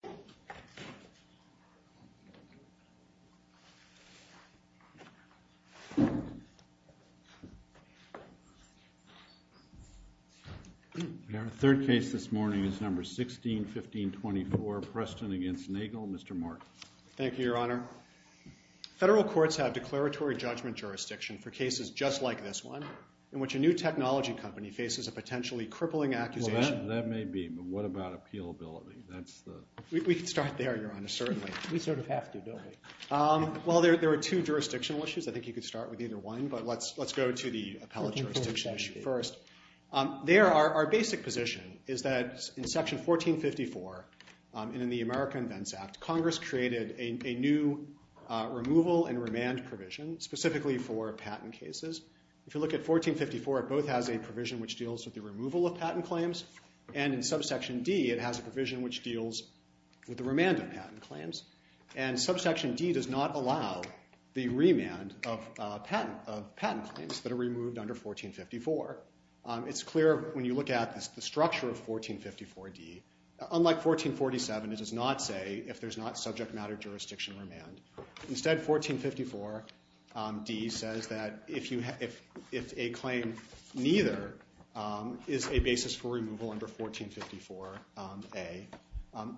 161524 Preston v. Nagel Federal courts have declaratory judgment jurisdiction for cases just like this one, in which a new technology company faces a potentially crippling accusation Well, that may be, but what about appealability? We can start there, Your Honor, certainly. We sort of have to, don't we? Well, there are two jurisdictional issues. I think you could start with either one, but let's go to the appellate jurisdiction issue first. There, our basic position is that in Section 1454, and in the America Invents Act, Congress created a new removal and remand provision, specifically for patent cases. If you look at 1454, it both has a provision which deals with the removal of patent claims, and in Subsection D, it has a provision which deals with the remand of patent claims. And Subsection D does not allow the remand of patent claims that are removed under 1454. It's clear when you look at the structure of 1454D, unlike 1447, it does not say if there's not subject matter jurisdiction remand. Instead, 1454D says that if a claim neither is a basis for removal under 1454A,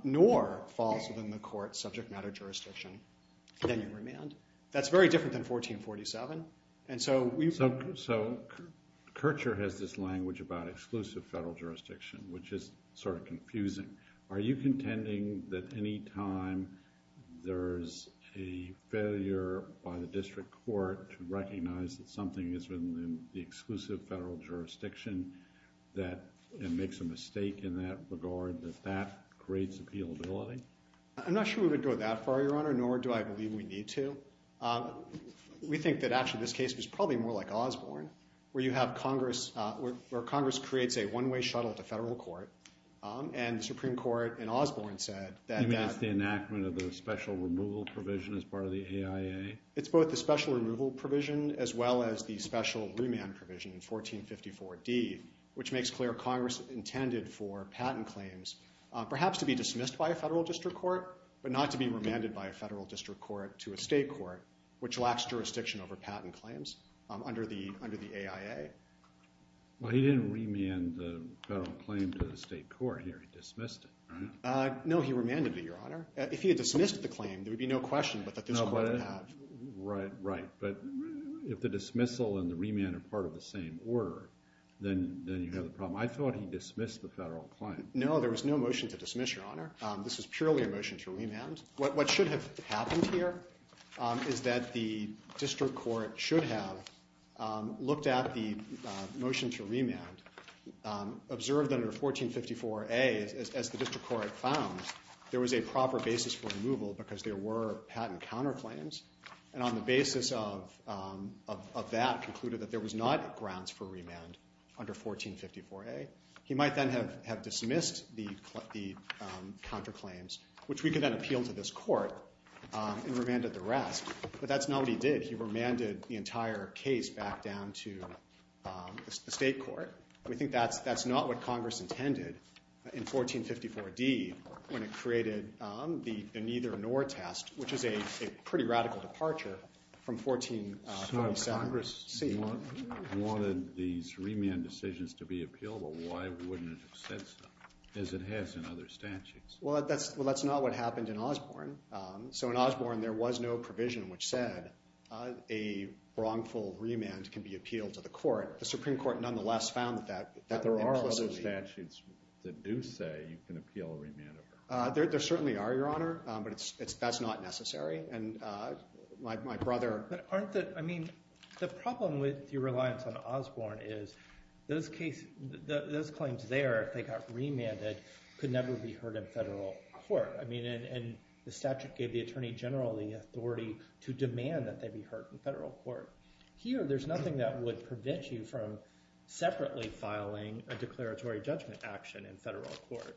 nor falls within the court's subject matter jurisdiction, then you remand. That's very different than 1447. So, Kircher has this language about exclusive federal jurisdiction, which is sort of confusing. Are you contending that any time there's a failure by the district court to recognize that something is within the exclusive federal jurisdiction, that it makes a mistake in that regard, that that creates appealability? I'm not sure we would go that far, Your Honor, nor do I believe we need to. We think that actually this case was probably more like Osborne, where Congress creates a one-way shuttle to federal court, and the Supreme Court in Osborne said that… You mean it's the enactment of the special removal provision as part of the AIA? It's both the special removal provision as well as the special remand provision in 1454D, which makes clear Congress intended for patent claims perhaps to be dismissed by a federal district court, but not to be remanded by a federal district court to a state court, which lacks jurisdiction over patent claims under the AIA. Well, he didn't remand the federal claim to the state court here. He dismissed it, right? No, he remanded it, Your Honor. If he had dismissed the claim, there would be no question that this court would have… Right, right. But if the dismissal and the remand are part of the same order, then you have a problem. I thought he dismissed the federal claim. No, there was no motion to dismiss, Your Honor. This was purely a motion to remand. What should have happened here is that the district court should have looked at the motion to remand, observed under 1454A as the district court found there was a proper basis for removal because there were patent counterclaims, and on the basis of that concluded that there was not grounds for remand under 1454A. He might then have dismissed the counterclaims, which we could then appeal to this court and remanded the rest, but that's not what he did. He remanded the entire case back down to the state court. We think that's not what Congress intended in 1454D when it created the neither-nor test, which is a pretty radical departure from 1447C. Congress wanted these remand decisions to be appealed, but why wouldn't it have said so, as it has in other statutes? Well, that's not what happened in Osborne. So in Osborne, there was no provision which said a wrongful remand can be appealed to the court. The Supreme Court nonetheless found that implicitly. But there are other statutes that do say you can appeal a remand of her. There certainly are, Your Honor, but that's not necessary. And my brother… But aren't the – I mean, the problem with your reliance on Osborne is those claims there, if they got remanded, could never be heard in federal court. I mean, and the statute gave the attorney general the authority to demand that they be heard in federal court. Here, there's nothing that would prevent you from separately filing a declaratory judgment action in federal court.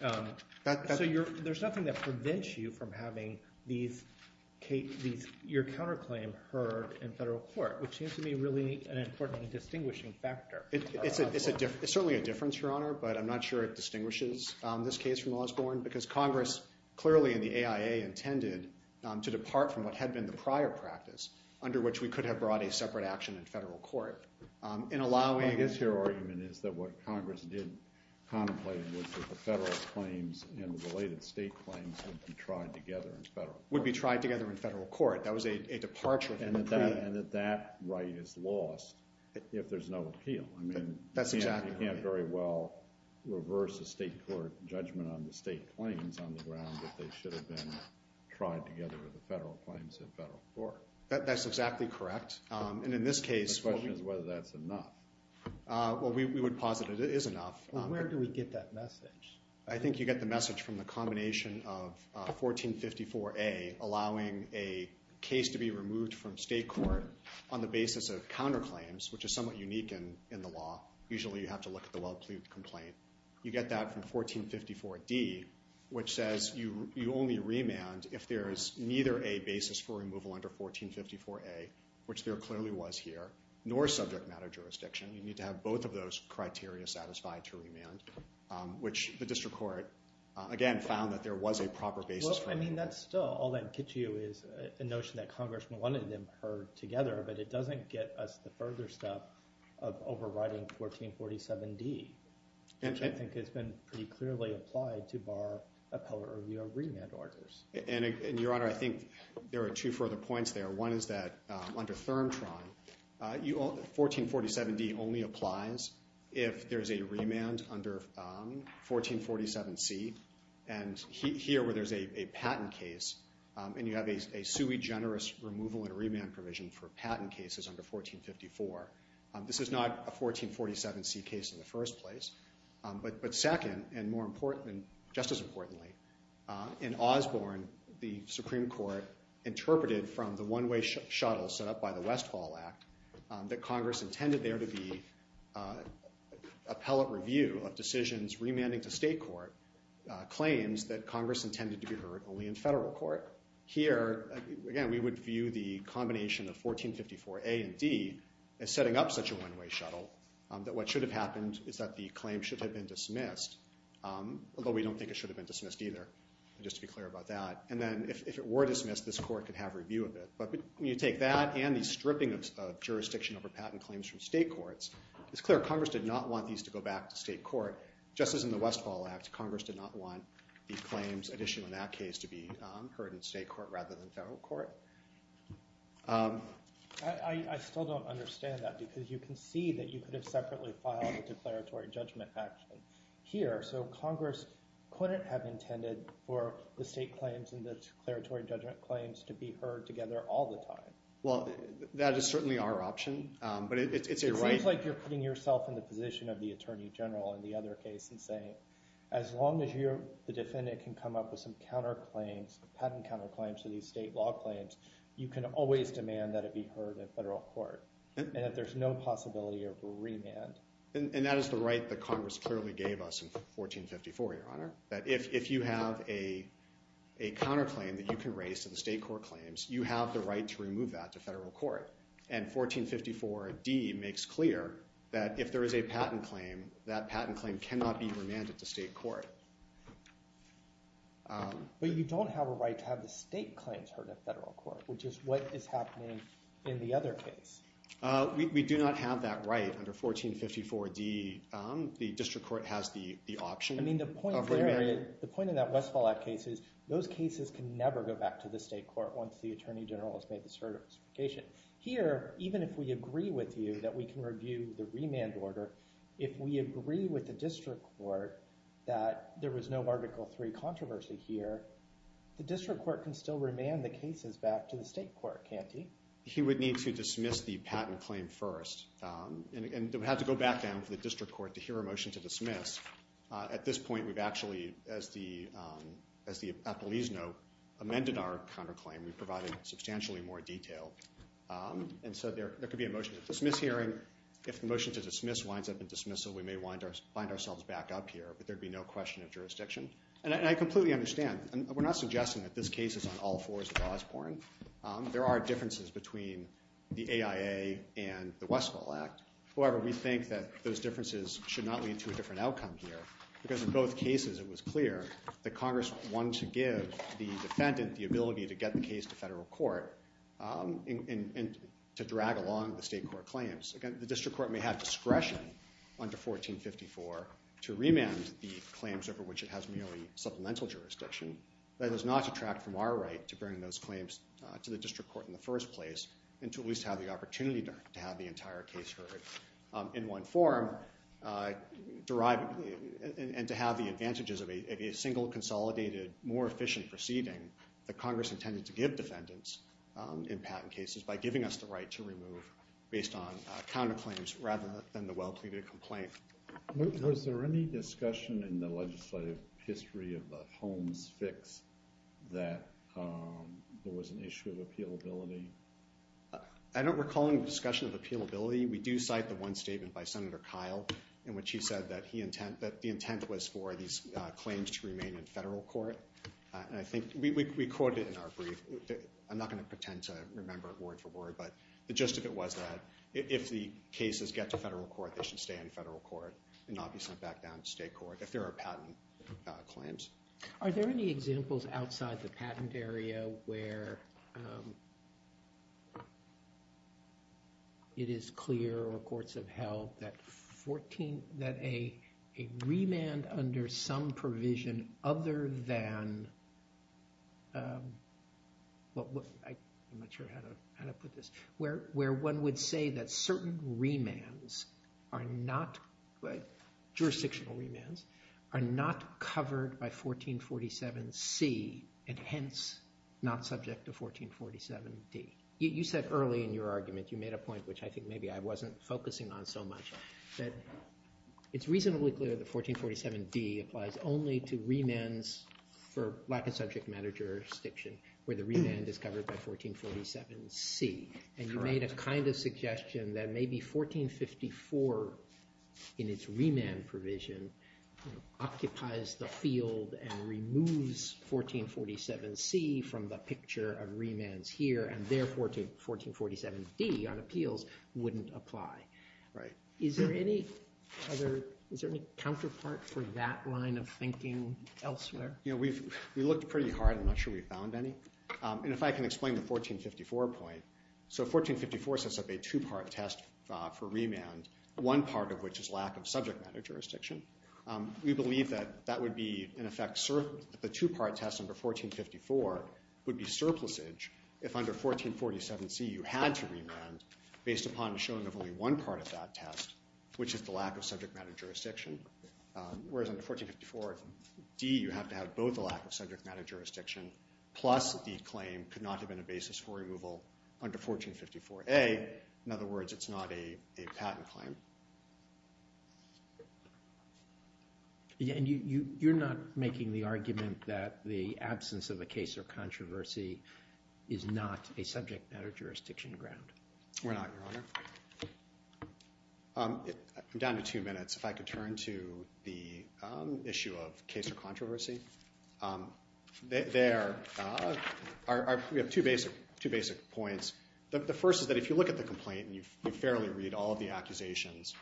So there's nothing that prevents you from having these – your counterclaim heard in federal court, which seems to be really an important and distinguishing factor. It's certainly a difference, Your Honor, but I'm not sure it distinguishes this case from Osborne because Congress clearly in the AIA intended to depart from what had been the prior practice under which we could have brought a separate action in federal court in allowing – My guess here, argument, is that what Congress did contemplate was that the federal claims and the related state claims would be tried together in federal court. Would be tried together in federal court. That was a departure from the pre- And that that right is lost if there's no appeal. I mean, you can't very well reverse a state court judgment on the state claims on the ground if they should have been tried together with the federal claims in federal court. That's exactly correct. And in this case – My question is whether that's enough. Well, we would posit it is enough. Where do we get that message? I think you get the message from the combination of 1454A, allowing a case to be removed from state court on the basis of counterclaims, which is somewhat unique in the law. Usually you have to look at the well-plea complaint. You get that from 1454D, which says you only remand if there is neither a basis for removal under 1454A, which there clearly was here, nor subject matter jurisdiction. You need to have both of those criteria satisfied to remand, which the district court, again, found that there was a proper basis for – I mean, that's still – all that gets you is the notion that Congress wanted them heard together, but it doesn't get us the further step of overriding 1447D, which I think has been pretty clearly applied to bar appellate review or remand orders. And, Your Honor, I think there are two further points there. One is that under ThermTron, 1447D only applies if there's a remand under 1447C, and here where there's a patent case, and you have a sui generis removal and remand provision for patent cases under 1454. This is not a 1447C case in the first place. But second, and more important, and just as importantly, in Osborne, the Supreme Court interpreted from the one-way shuttle set up by the West Hall Act that Congress intended there to be appellate review of decisions remanding to state court claims that Congress intended to be heard only in federal court. Here, again, we would view the combination of 1454A and D as setting up such a one-way shuttle that what should have happened is that the claim should have been dismissed, although we don't think it should have been dismissed either, just to be clear about that. And then if it were dismissed, this court could have review of it. But when you take that and the stripping of jurisdiction over patent claims from state courts, it's clear Congress did not want these to go back to state court. Just as in the West Hall Act, Congress did not want these claims, additional in that case, to be heard in state court rather than federal court. I still don't understand that, because you can see that you could have separately filed a declaratory judgment action here. So Congress couldn't have intended for the state claims and the declaratory judgment claims to be heard together all the time. Well, that is certainly our option. It seems like you're putting yourself in the position of the attorney general in the other case and saying, as long as the defendant can come up with some counterclaims, patent counterclaims to these state law claims, you can always demand that it be heard in federal court. And that there's no possibility of a remand. And that is the right that Congress clearly gave us in 1454, Your Honor, that if you have a counterclaim that you can raise to the state court claims, you have the right to remove that to federal court. And 1454d makes clear that if there is a patent claim, that patent claim cannot be remanded to state court. But you don't have a right to have the state claims heard in federal court, which is what is happening in the other case. We do not have that right under 1454d. The district court has the option. I mean, the point of that Westfall Act case is those cases can never go back to the state court once the attorney general has made the certification. Here, even if we agree with you that we can review the remand order, if we agree with the district court that there was no Article III controversy here, the district court can still remand the cases back to the state court, can't he? He would need to dismiss the patent claim first. And it would have to go back down to the district court to hear a motion to dismiss. At this point, we've actually, as the appellees know, amended our counterclaim. We provided substantially more detail. And so there could be a motion to dismiss hearing. If the motion to dismiss winds up in dismissal, we may wind ourselves back up here. But there'd be no question of jurisdiction. And I completely understand. We're not suggesting that this case is on all fours of Osborne. There are differences between the AIA and the Westfall Act. However, we think that those differences should not lead to a different outcome here. Because in both cases, it was clear that Congress wanted to give the defendant the ability to get the case to federal court and to drag along the state court claims. Again, the district court may have discretion under 1454 to remand the claims over which it has merely supplemental jurisdiction. That does not detract from our right to bring those claims to the district court in the first place, and to at least have the opportunity to have the entire case heard in one form, and to have the advantages of a single, consolidated, more efficient proceeding that Congress intended to give defendants in patent cases by giving us the right to remove based on counterclaims rather than the well-pleaded complaint. Was there any discussion in the legislative history of the Holmes fix that there was an issue of appealability? I don't recall any discussion of appealability. We do cite the one statement by Senator Kyle in which he said that the intent was for these claims to remain in federal court. We quote it in our brief. I'm not going to pretend to remember it word for word, but the gist of it was that if the cases get to federal court, they should stay in federal court and not be sent back down to state court if there are patent claims. Are there any examples outside the patent area where it is clear, or courts have held, that a remand under some provision other than—I'm not sure how to put this— where one would say that certain jurisdictional remands are not covered by 1447C and hence not subject to 1447D? You said early in your argument, you made a point which I think maybe I wasn't focusing on so much, that it's reasonably clear that 1447D applies only to remands for lack of subject matter jurisdiction where the remand is covered by 1447C. And you made a kind of suggestion that maybe 1454 in its remand provision occupies the field and removes 1447C from the picture of remands here and therefore to 1447D on appeals wouldn't apply. Is there any counterpart for that line of thinking elsewhere? We looked pretty hard. I'm not sure we found any. And if I can explain the 1454 point. So 1454 sets up a two-part test for remand, one part of which is lack of subject matter jurisdiction. We believe that that would be, in effect, the two-part test under 1454 would be surplusage if under 1447C you had to remand based upon the showing of only one part of that test, which is the lack of subject matter jurisdiction. Whereas under 1454D you have to have both the lack of subject matter jurisdiction plus the claim could not have been a basis for removal under 1454A. In other words, it's not a patent claim. And you're not making the argument that the absence of a case or controversy is not a subject matter jurisdiction ground? We're not, Your Honor. I'm down to two minutes. If I could turn to the issue of case or controversy. We have two basic points. The first is that if you look at the complaint and you fairly read all of the accusations,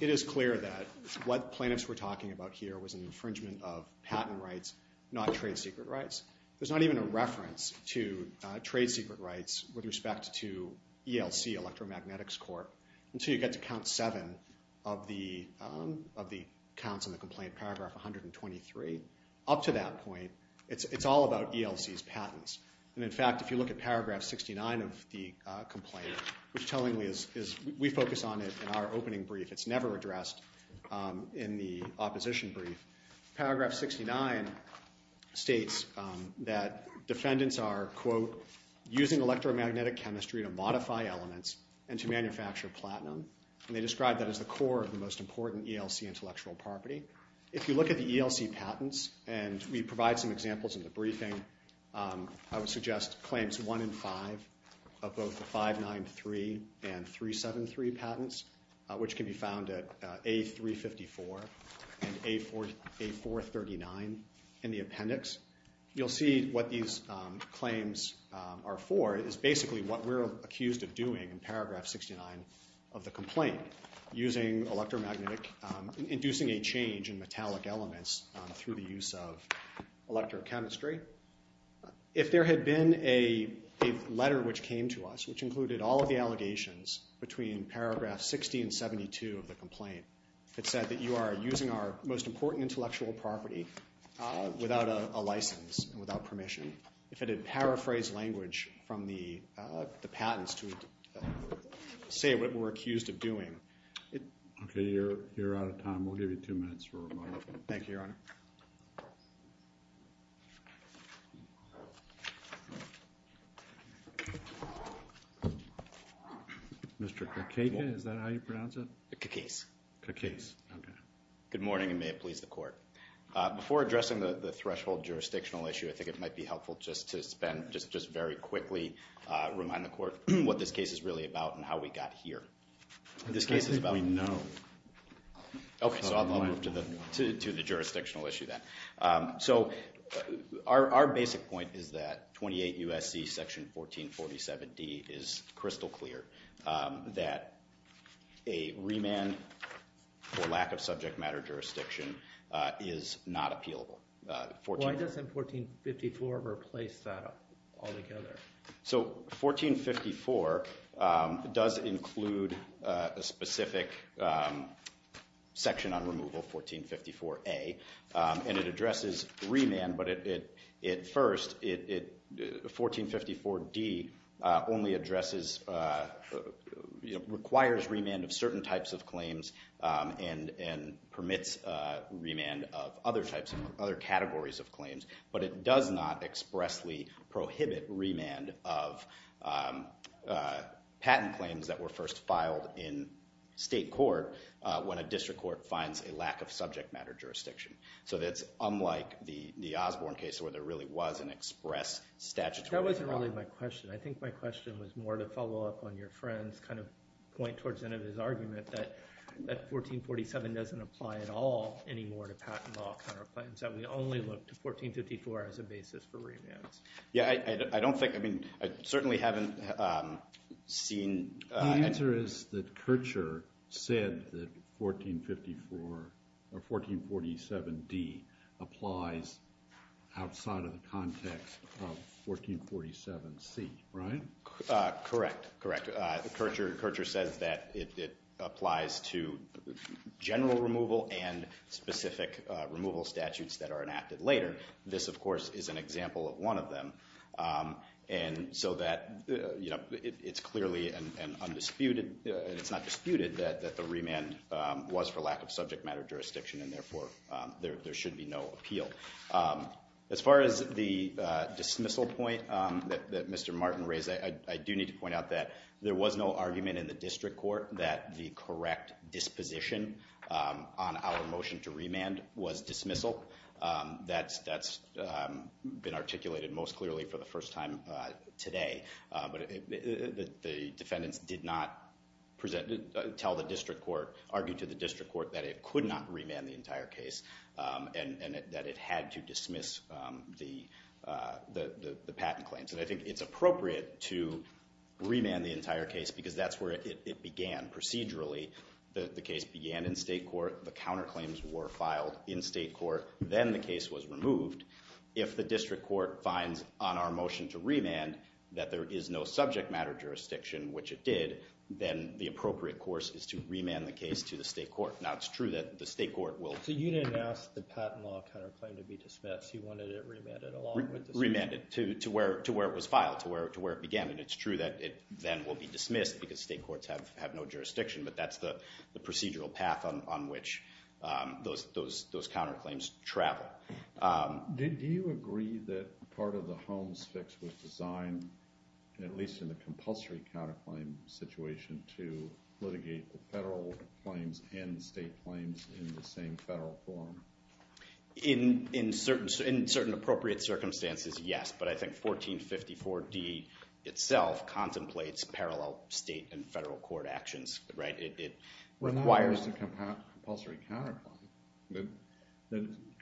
it is clear that what plaintiffs were talking about here was an infringement of patent rights, not trade secret rights. There's not even a reference to trade secret rights with respect to ELC Electromagnetics Court until you get to count seven of the counts in the complaint, paragraph 123. Up to that point, it's all about ELC's patents. And in fact, if you look at paragraph 69 of the complaint, which tellingly is, we focus on it in our opening brief, it's never addressed in the opposition brief. Paragraph 69 states that defendants are, quote, using electromagnetic chemistry to modify elements and to manufacture platinum. And they describe that as the core of the most important ELC intellectual property. If you look at the ELC patents, and we provide some examples in the briefing, I would suggest claims one and five of both the 593 and 373 patents, which can be found at A354 and A439 in the appendix. You'll see what these claims are for is basically what we're accused of doing in paragraph 69 of the complaint, using electromagnetic, inducing a change in metallic elements through the use of electrochemistry. If there had been a letter which came to us which included all of the allegations between paragraph 60 and 72 of the complaint, it said that you are using our most important intellectual property without a license and without permission. If it had paraphrased language from the patents to say what we're accused of doing. Okay, you're out of time. We'll give you two minutes for a moment. Thank you, Your Honor. Mr. Kakega, is that how you pronounce it? Kakez. Kakez, okay. Good morning, and may it please the court. Before addressing the threshold jurisdictional issue, I think it might be helpful just to spend, just very quickly, remind the court what this case is really about and how we got here. I think we know. Okay, so I'll move to the jurisdictional issue then. So, our basic point is that 28 U.S.C. section 1447D is crystal clear. That a remand for lack of subject matter jurisdiction is not appealable. Why doesn't 1454 replace that altogether? So, 1454 does include a specific section on removal, 1454A, and it addresses remand, but it first, 1454D only addresses, requires remand of certain types of claims and permits remand of other categories of claims, but it does not expressly prohibit remand of patent claims that were first filed in state court when a district court finds a lack of subject matter jurisdiction. So, that's unlike the Osborne case where there really was an express statutory requirement. That wasn't really my question. I think my question was more to follow up on your friend's kind of point towards the end of his argument that 1447 doesn't apply at all anymore to patent law counterclaims, that we only look to 1454 as a basis for remands. Yeah, I don't think, I mean, I certainly haven't seen... The answer is that Kircher said that 1457D applies outside of the context of 1447C, right? Correct, correct. Kircher says that it applies to general removal and specific removal statutes that are enacted later. This, of course, is an example of one of them, and so that it's clearly undisputed, it's not disputed that the remand was for lack of subject matter jurisdiction and therefore there should be no appeal. As far as the dismissal point that Mr. Martin raised, I do need to point out that there was no argument in the district court that the correct disposition on our motion to remand was dismissal. That's been articulated most clearly for the first time today, but the defendants did not tell the district court, argued to the district court that it could not remand the entire case and that it had to dismiss the patent claims. And I think it's appropriate to remand the entire case because that's where it began procedurally. The case began in state court, the counterclaims were filed in state court, then the case was removed. If the district court finds on our motion to remand that there is no subject matter jurisdiction, which it did, then the appropriate course is to remand the case to the state court. Now, it's true that the state court will... So you didn't ask the patent law counterclaim to be dismissed, you wanted it remanded along with the state court. Remanded to where it was filed, to where it began, and it's true that it then will be dismissed because state courts have no jurisdiction, but that's the procedural path on which those counterclaims travel. Do you agree that part of the Holmes fix was designed, at least in the compulsory counterclaim situation, to litigate the federal claims and the state claims in the same federal form? In certain appropriate circumstances, yes, but I think 1454D itself contemplates parallel state and federal court actions. It requires a compulsory counterclaim.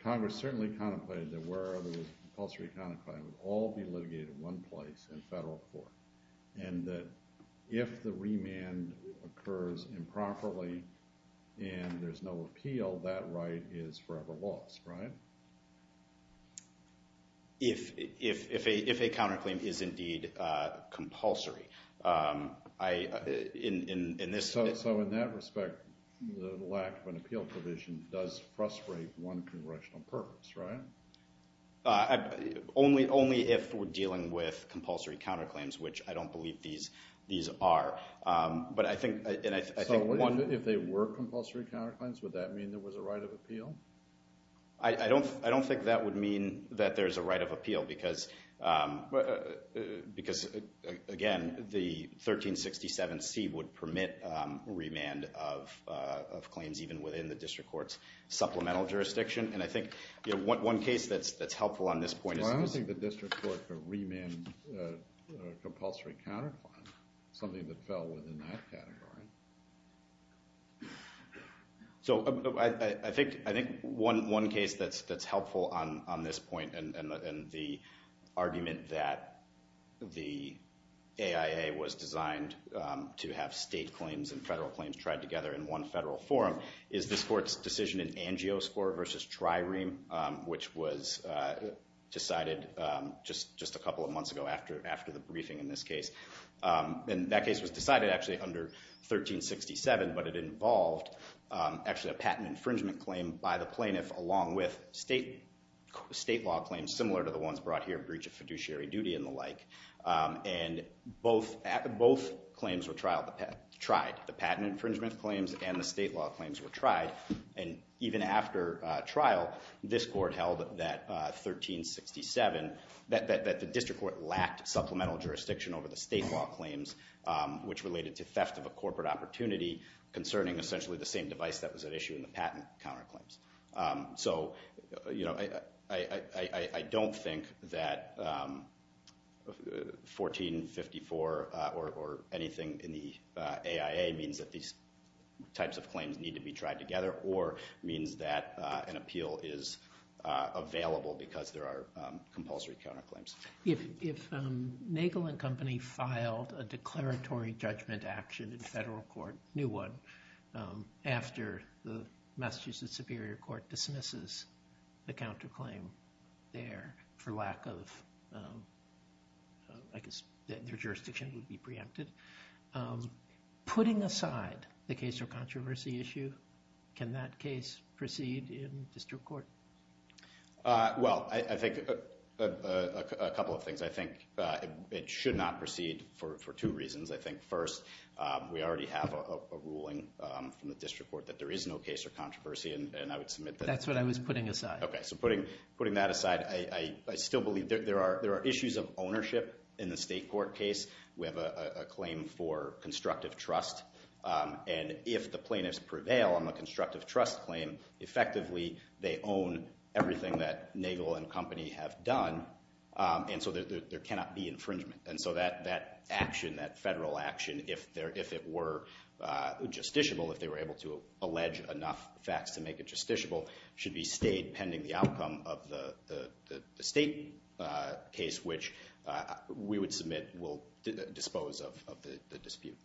Congress certainly contemplated that where there was a compulsory counterclaim would all be litigated in one place, in federal court, and that if the remand occurs improperly and there's no appeal, that right is forever lost, right? If a counterclaim is indeed compulsory. So in that respect, the lack of an appeal provision does frustrate one congressional purpose, right? Only if we're dealing with compulsory counterclaims, which I don't believe these are. So if they were compulsory counterclaims, would that mean there was a right of appeal? I don't think that would mean that there's a right of appeal because, again, the 1367C would permit remand of claims even within the district court's supplemental jurisdiction, and I think one case that's helpful on this point is— Well, I don't think the district court could remand a compulsory counterclaim, something that fell within that category. So I think one case that's helpful on this point and the argument that the AIA was designed to have state claims and federal claims tried together in one federal forum is this court's decision in Angio score versus Trireme, which was decided just a couple of months ago after the briefing in this case. And that case was decided actually under 1367, but it involved actually a patent infringement claim by the plaintiff along with state law claims similar to the ones brought here, breach of fiduciary duty and the like. And both claims were tried, the patent infringement claims and the state law claims were tried, and even after trial, this court held that 1367, that the district court lacked supplemental jurisdiction over the state law claims, which related to theft of a corporate opportunity concerning essentially the same device that was at issue in the patent counterclaims. So I don't think that 1454 or anything in the AIA means that these types of claims need to be tried together or means that an appeal is available because there are compulsory counterclaims. If Nagel and Company filed a declaratory judgment action in federal court, new one, after the Massachusetts Superior Court dismisses the counterclaim there for lack of, I guess, their jurisdiction would be preempted, putting aside the case or controversy issue, can that case proceed in district court? Well, I think a couple of things. I think it should not proceed for two reasons. I think first, we already have a ruling from the district court that there is no case or controversy, and I would submit that. That's what I was putting aside. Okay, so putting that aside, I still believe there are issues of ownership in the state court case. We have a claim for constructive trust, and if the plaintiffs prevail on the constructive trust claim, effectively they own everything that Nagel and Company have done, and so there cannot be infringement. And so that action, that federal action, if it were justiciable, if they were able to allege enough facts to make it justiciable, should be stayed pending the outcome of the state case, which we would submit will dispose of the dispute.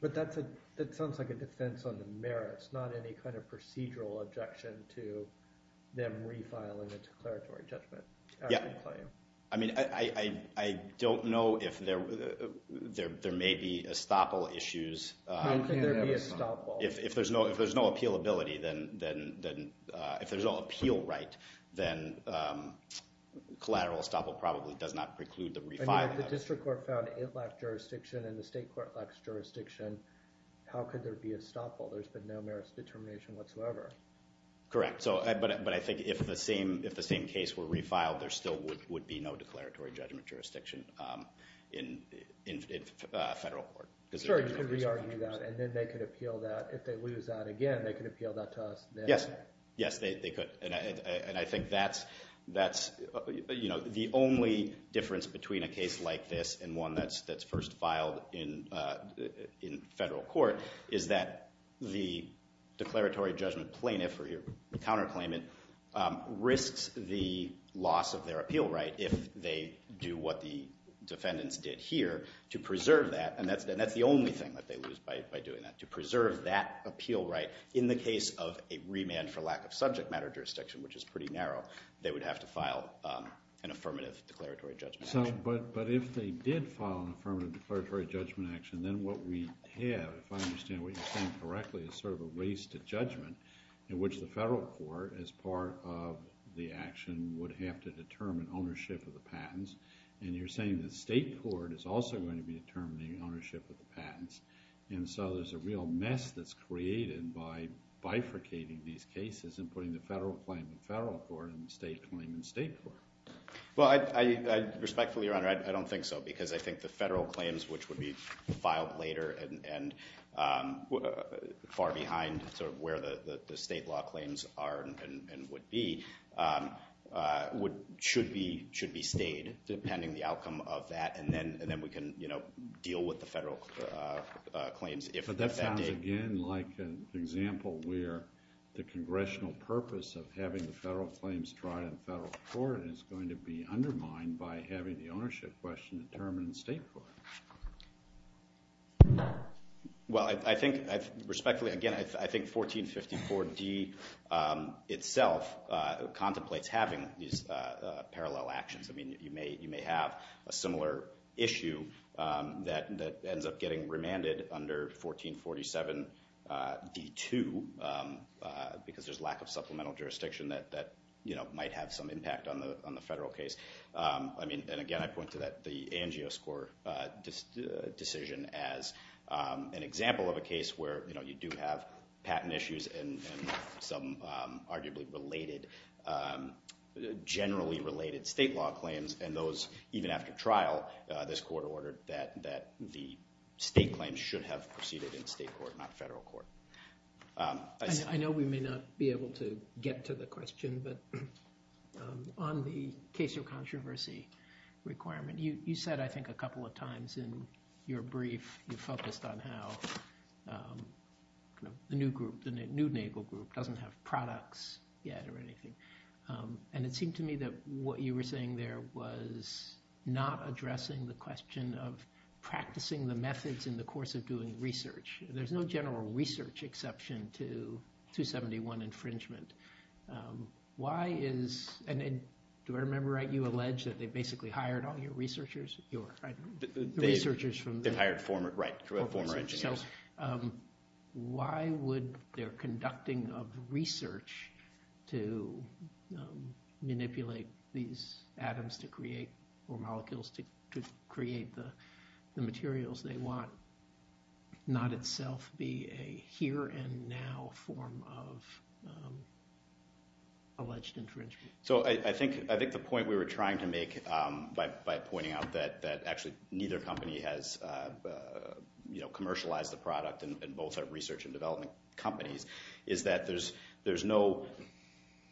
But that sounds like a defense on the merits, not any kind of procedural objection to them refiling the declaratory judgment. Yeah. I mean, I don't know if there may be estoppel issues. How can there be estoppel? If there's no appealability, then if there's no appeal right, then collateral estoppel probably does not preclude the refiling. I mean, if the district court found it lacks jurisdiction and the state court lacks jurisdiction, how could there be estoppel? There's been no merits determination whatsoever. Correct. But I think if the same case were refiled, there still would be no declaratory judgment jurisdiction in federal court. Sure, you could re-argue that, and then they could appeal that. If they lose that again, they could appeal that to us. Yes. Yes, they could. And I think that's the only difference between a case like this and one that's first filed in federal court is that the declaratory judgment plaintiff or your counterclaimant risks the loss of their appeal right if they do what the defendants did here to preserve that. And that's the only thing that they lose by doing that, to preserve that appeal right in the case of a remand for lack of subject matter jurisdiction, which is pretty narrow. They would have to file an affirmative declaratory judgment action. But if they did file an affirmative declaratory judgment action, then what we have, if I understand what you're saying correctly, is sort of a race to judgment in which the federal court, as part of the action, would have to determine ownership of the patents. And you're saying the state court is also going to be determining ownership of the patents. And so there's a real mess that's created by bifurcating these cases and putting the federal claim in federal court and the state claim in state court. Well, respectfully, Your Honor, I don't think so. Because I think the federal claims, which would be filed later and far behind where the state law claims are and would be, should be stayed, depending on the outcome of that. And then we can deal with the federal claims if that day. But that sounds, again, like an example where the congressional purpose of having the federal claims tried in federal court is going to be undermined by having the ownership question determined in state court. Well, I think, respectfully, again, I think 1454D itself contemplates having these parallel actions. I mean, you may have a similar issue that ends up getting remanded under 1447D2 because there's lack of supplemental jurisdiction that might have some impact on the federal case. And again, I point to the ANGO score decision as an example of a case where you do have patent issues and some arguably related, generally related state law claims. And those, even after trial, this court ordered that the state claims should have proceeded in state court, not federal court. I know we may not be able to get to the question, but on the case of controversy requirement, you said, I think, a couple of times in your brief you focused on how the new group, the new NAGLE group, doesn't have products yet or anything. And it seemed to me that what you were saying there was not addressing the question of practicing the methods in the course of doing research. There's no general research exception to 271 infringement. Why is, and do I remember right, you allege that they basically hired all your researchers? The researchers from the- They hired former, right, former engineers. Why would their conducting of research to manipulate these atoms to create, or molecules to create the materials they want, not itself be a here and now form of alleged infringement? So I think the point we were trying to make by pointing out that actually neither company has commercialized the product, and both are research and development companies, is that there's no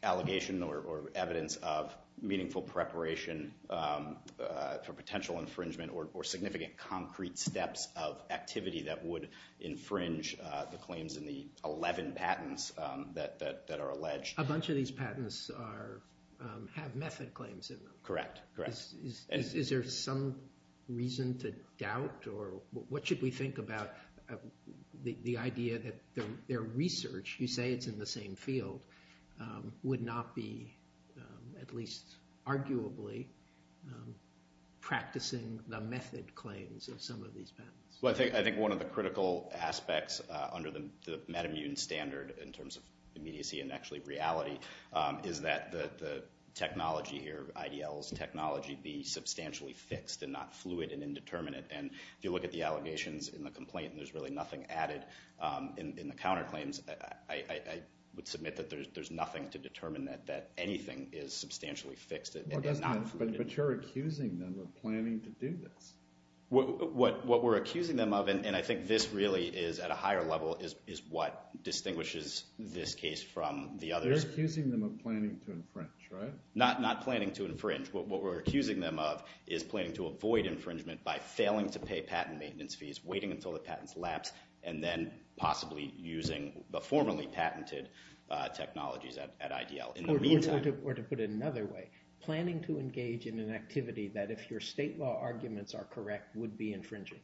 allegation or evidence of meaningful preparation for potential infringement or significant concrete steps of activity that would infringe the claims in the 11 patents that are alleged. A bunch of these patents have method claims in them. Correct, correct. Is there some reason to doubt, or what should we think about the idea that their research, you say it's in the same field, would not be at least arguably practicing the method claims of some of these patents? Well, I think one of the critical aspects under the metamutant standard in terms of immediacy and actually reality is that the technology here, IDL's technology, be substantially fixed and not fluid and indeterminate. And if you look at the allegations in the complaint, there's really nothing added in the counterclaims. I would submit that there's nothing to determine that anything is substantially fixed. But you're accusing them of planning to do this. What we're accusing them of, and I think this really is at a higher level, is what distinguishes this case from the others. You're accusing them of planning to infringe, right? Not planning to infringe. What we're accusing them of is planning to avoid infringement by failing to pay patent maintenance fees, waiting until the patents lapse, and then possibly using the formerly patented technologies at IDL. Or to put it another way, planning to engage in an activity that if your state law arguments are correct would be infringing.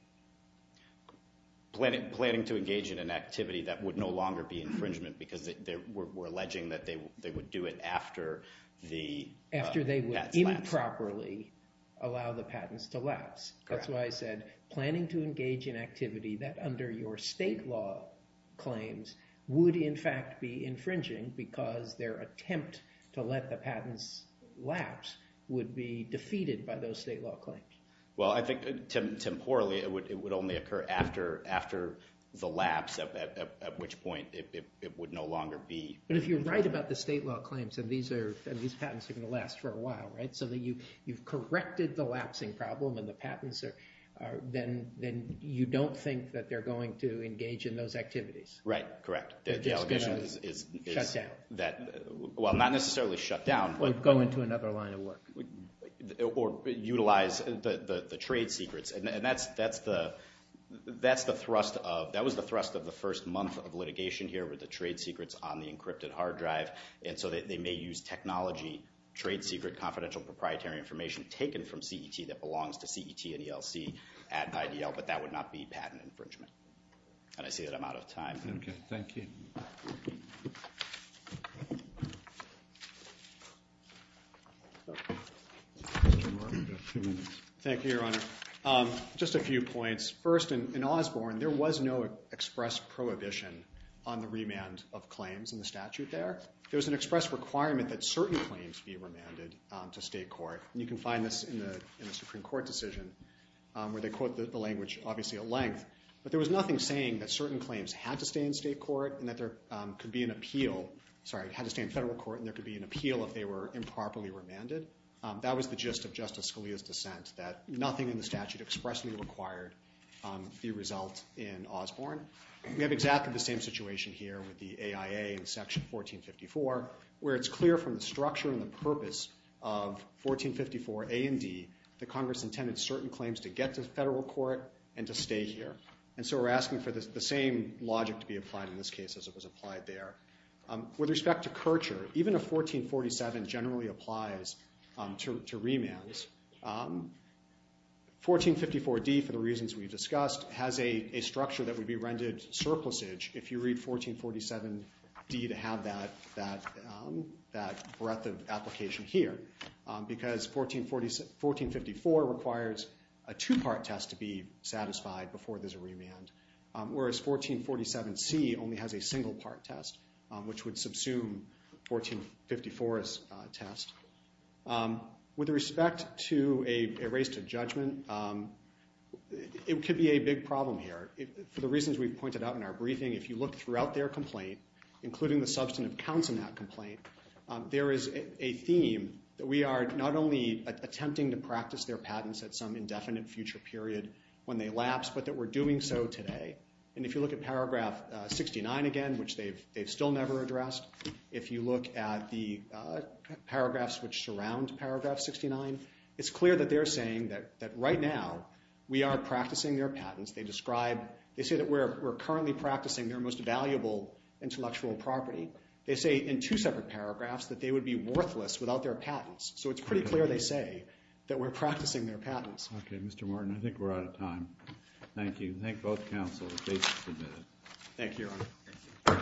Planning to engage in an activity that would no longer be infringement because we're alleging that they would do it after the patents lapse. After they would improperly allow the patents to lapse. That's why I said planning to engage in activity that under your state law claims would in fact be infringing because their attempt to let the patents lapse would be defeated by those state law claims. Well, I think temporally it would only occur after the lapse, at which point it would no longer be. But if you're right about the state law claims and these patents are going to last for a while, right? So that you've corrected the lapsing problem and the patents are then you don't think that they're going to engage in those activities. Right, correct. They're just going to shut down. Well, not necessarily shut down. Or go into another line of work. Or utilize the trade secrets. And that was the thrust of the first month of litigation here with the trade secrets on the encrypted hard drive. And so they may use technology, trade secret, confidential proprietary information taken from CET that belongs to CET and ELC at IDL, but that would not be patent infringement. And I see that I'm out of time. Okay, thank you. Thank you, Your Honor. Just a few points. First, in Osborne there was no express prohibition on the remand of claims in the statute there. There was an express requirement that certain claims be remanded to state court. And you can find this in the Supreme Court decision, where they quote the language obviously at length. But there was nothing saying that certain claims had to stay in state court and that there could be an appeal. Sorry, had to stay in federal court and there could be an appeal if they were improperly remanded. That was the gist of Justice Scalia's dissent, that nothing in the statute expressly required the result in Osborne. We have exactly the same situation here with the AIA in Section 1454, where it's clear from the structure and the purpose of 1454 A and D that Congress intended certain claims to get to federal court and to stay here. And so we're asking for the same logic to be applied in this case as it was applied there. With respect to Kircher, even if 1447 generally applies to remands, 1454 D, for the reasons we've discussed, has a structure that would be rendered surplusage if you read 1447 D to have that breadth of application here. Because 1454 requires a two-part test to be satisfied before there's a remand, whereas 1447 C only has a single-part test, which would subsume 1454's test. With respect to a race to judgment, it could be a big problem here. For the reasons we've pointed out in our briefing, if you look throughout their complaint, including the substantive counts in that complaint, there is a theme that we are not only attempting to practice their patents at some indefinite future period when they lapse, but that we're doing so today. And if you look at Paragraph 69 again, which they've still never addressed, if you look at the paragraphs which surround Paragraph 69, it's clear that they're saying that right now we are practicing their patents. They say that we're currently practicing their most valuable intellectual property. They say in two separate paragraphs that they would be worthless without their patents. So it's pretty clear they say that we're practicing their patents. Okay, Mr. Martin, I think we're out of time. Thank you. Thank both counsels. The case is submitted. Thank you, Your Honor.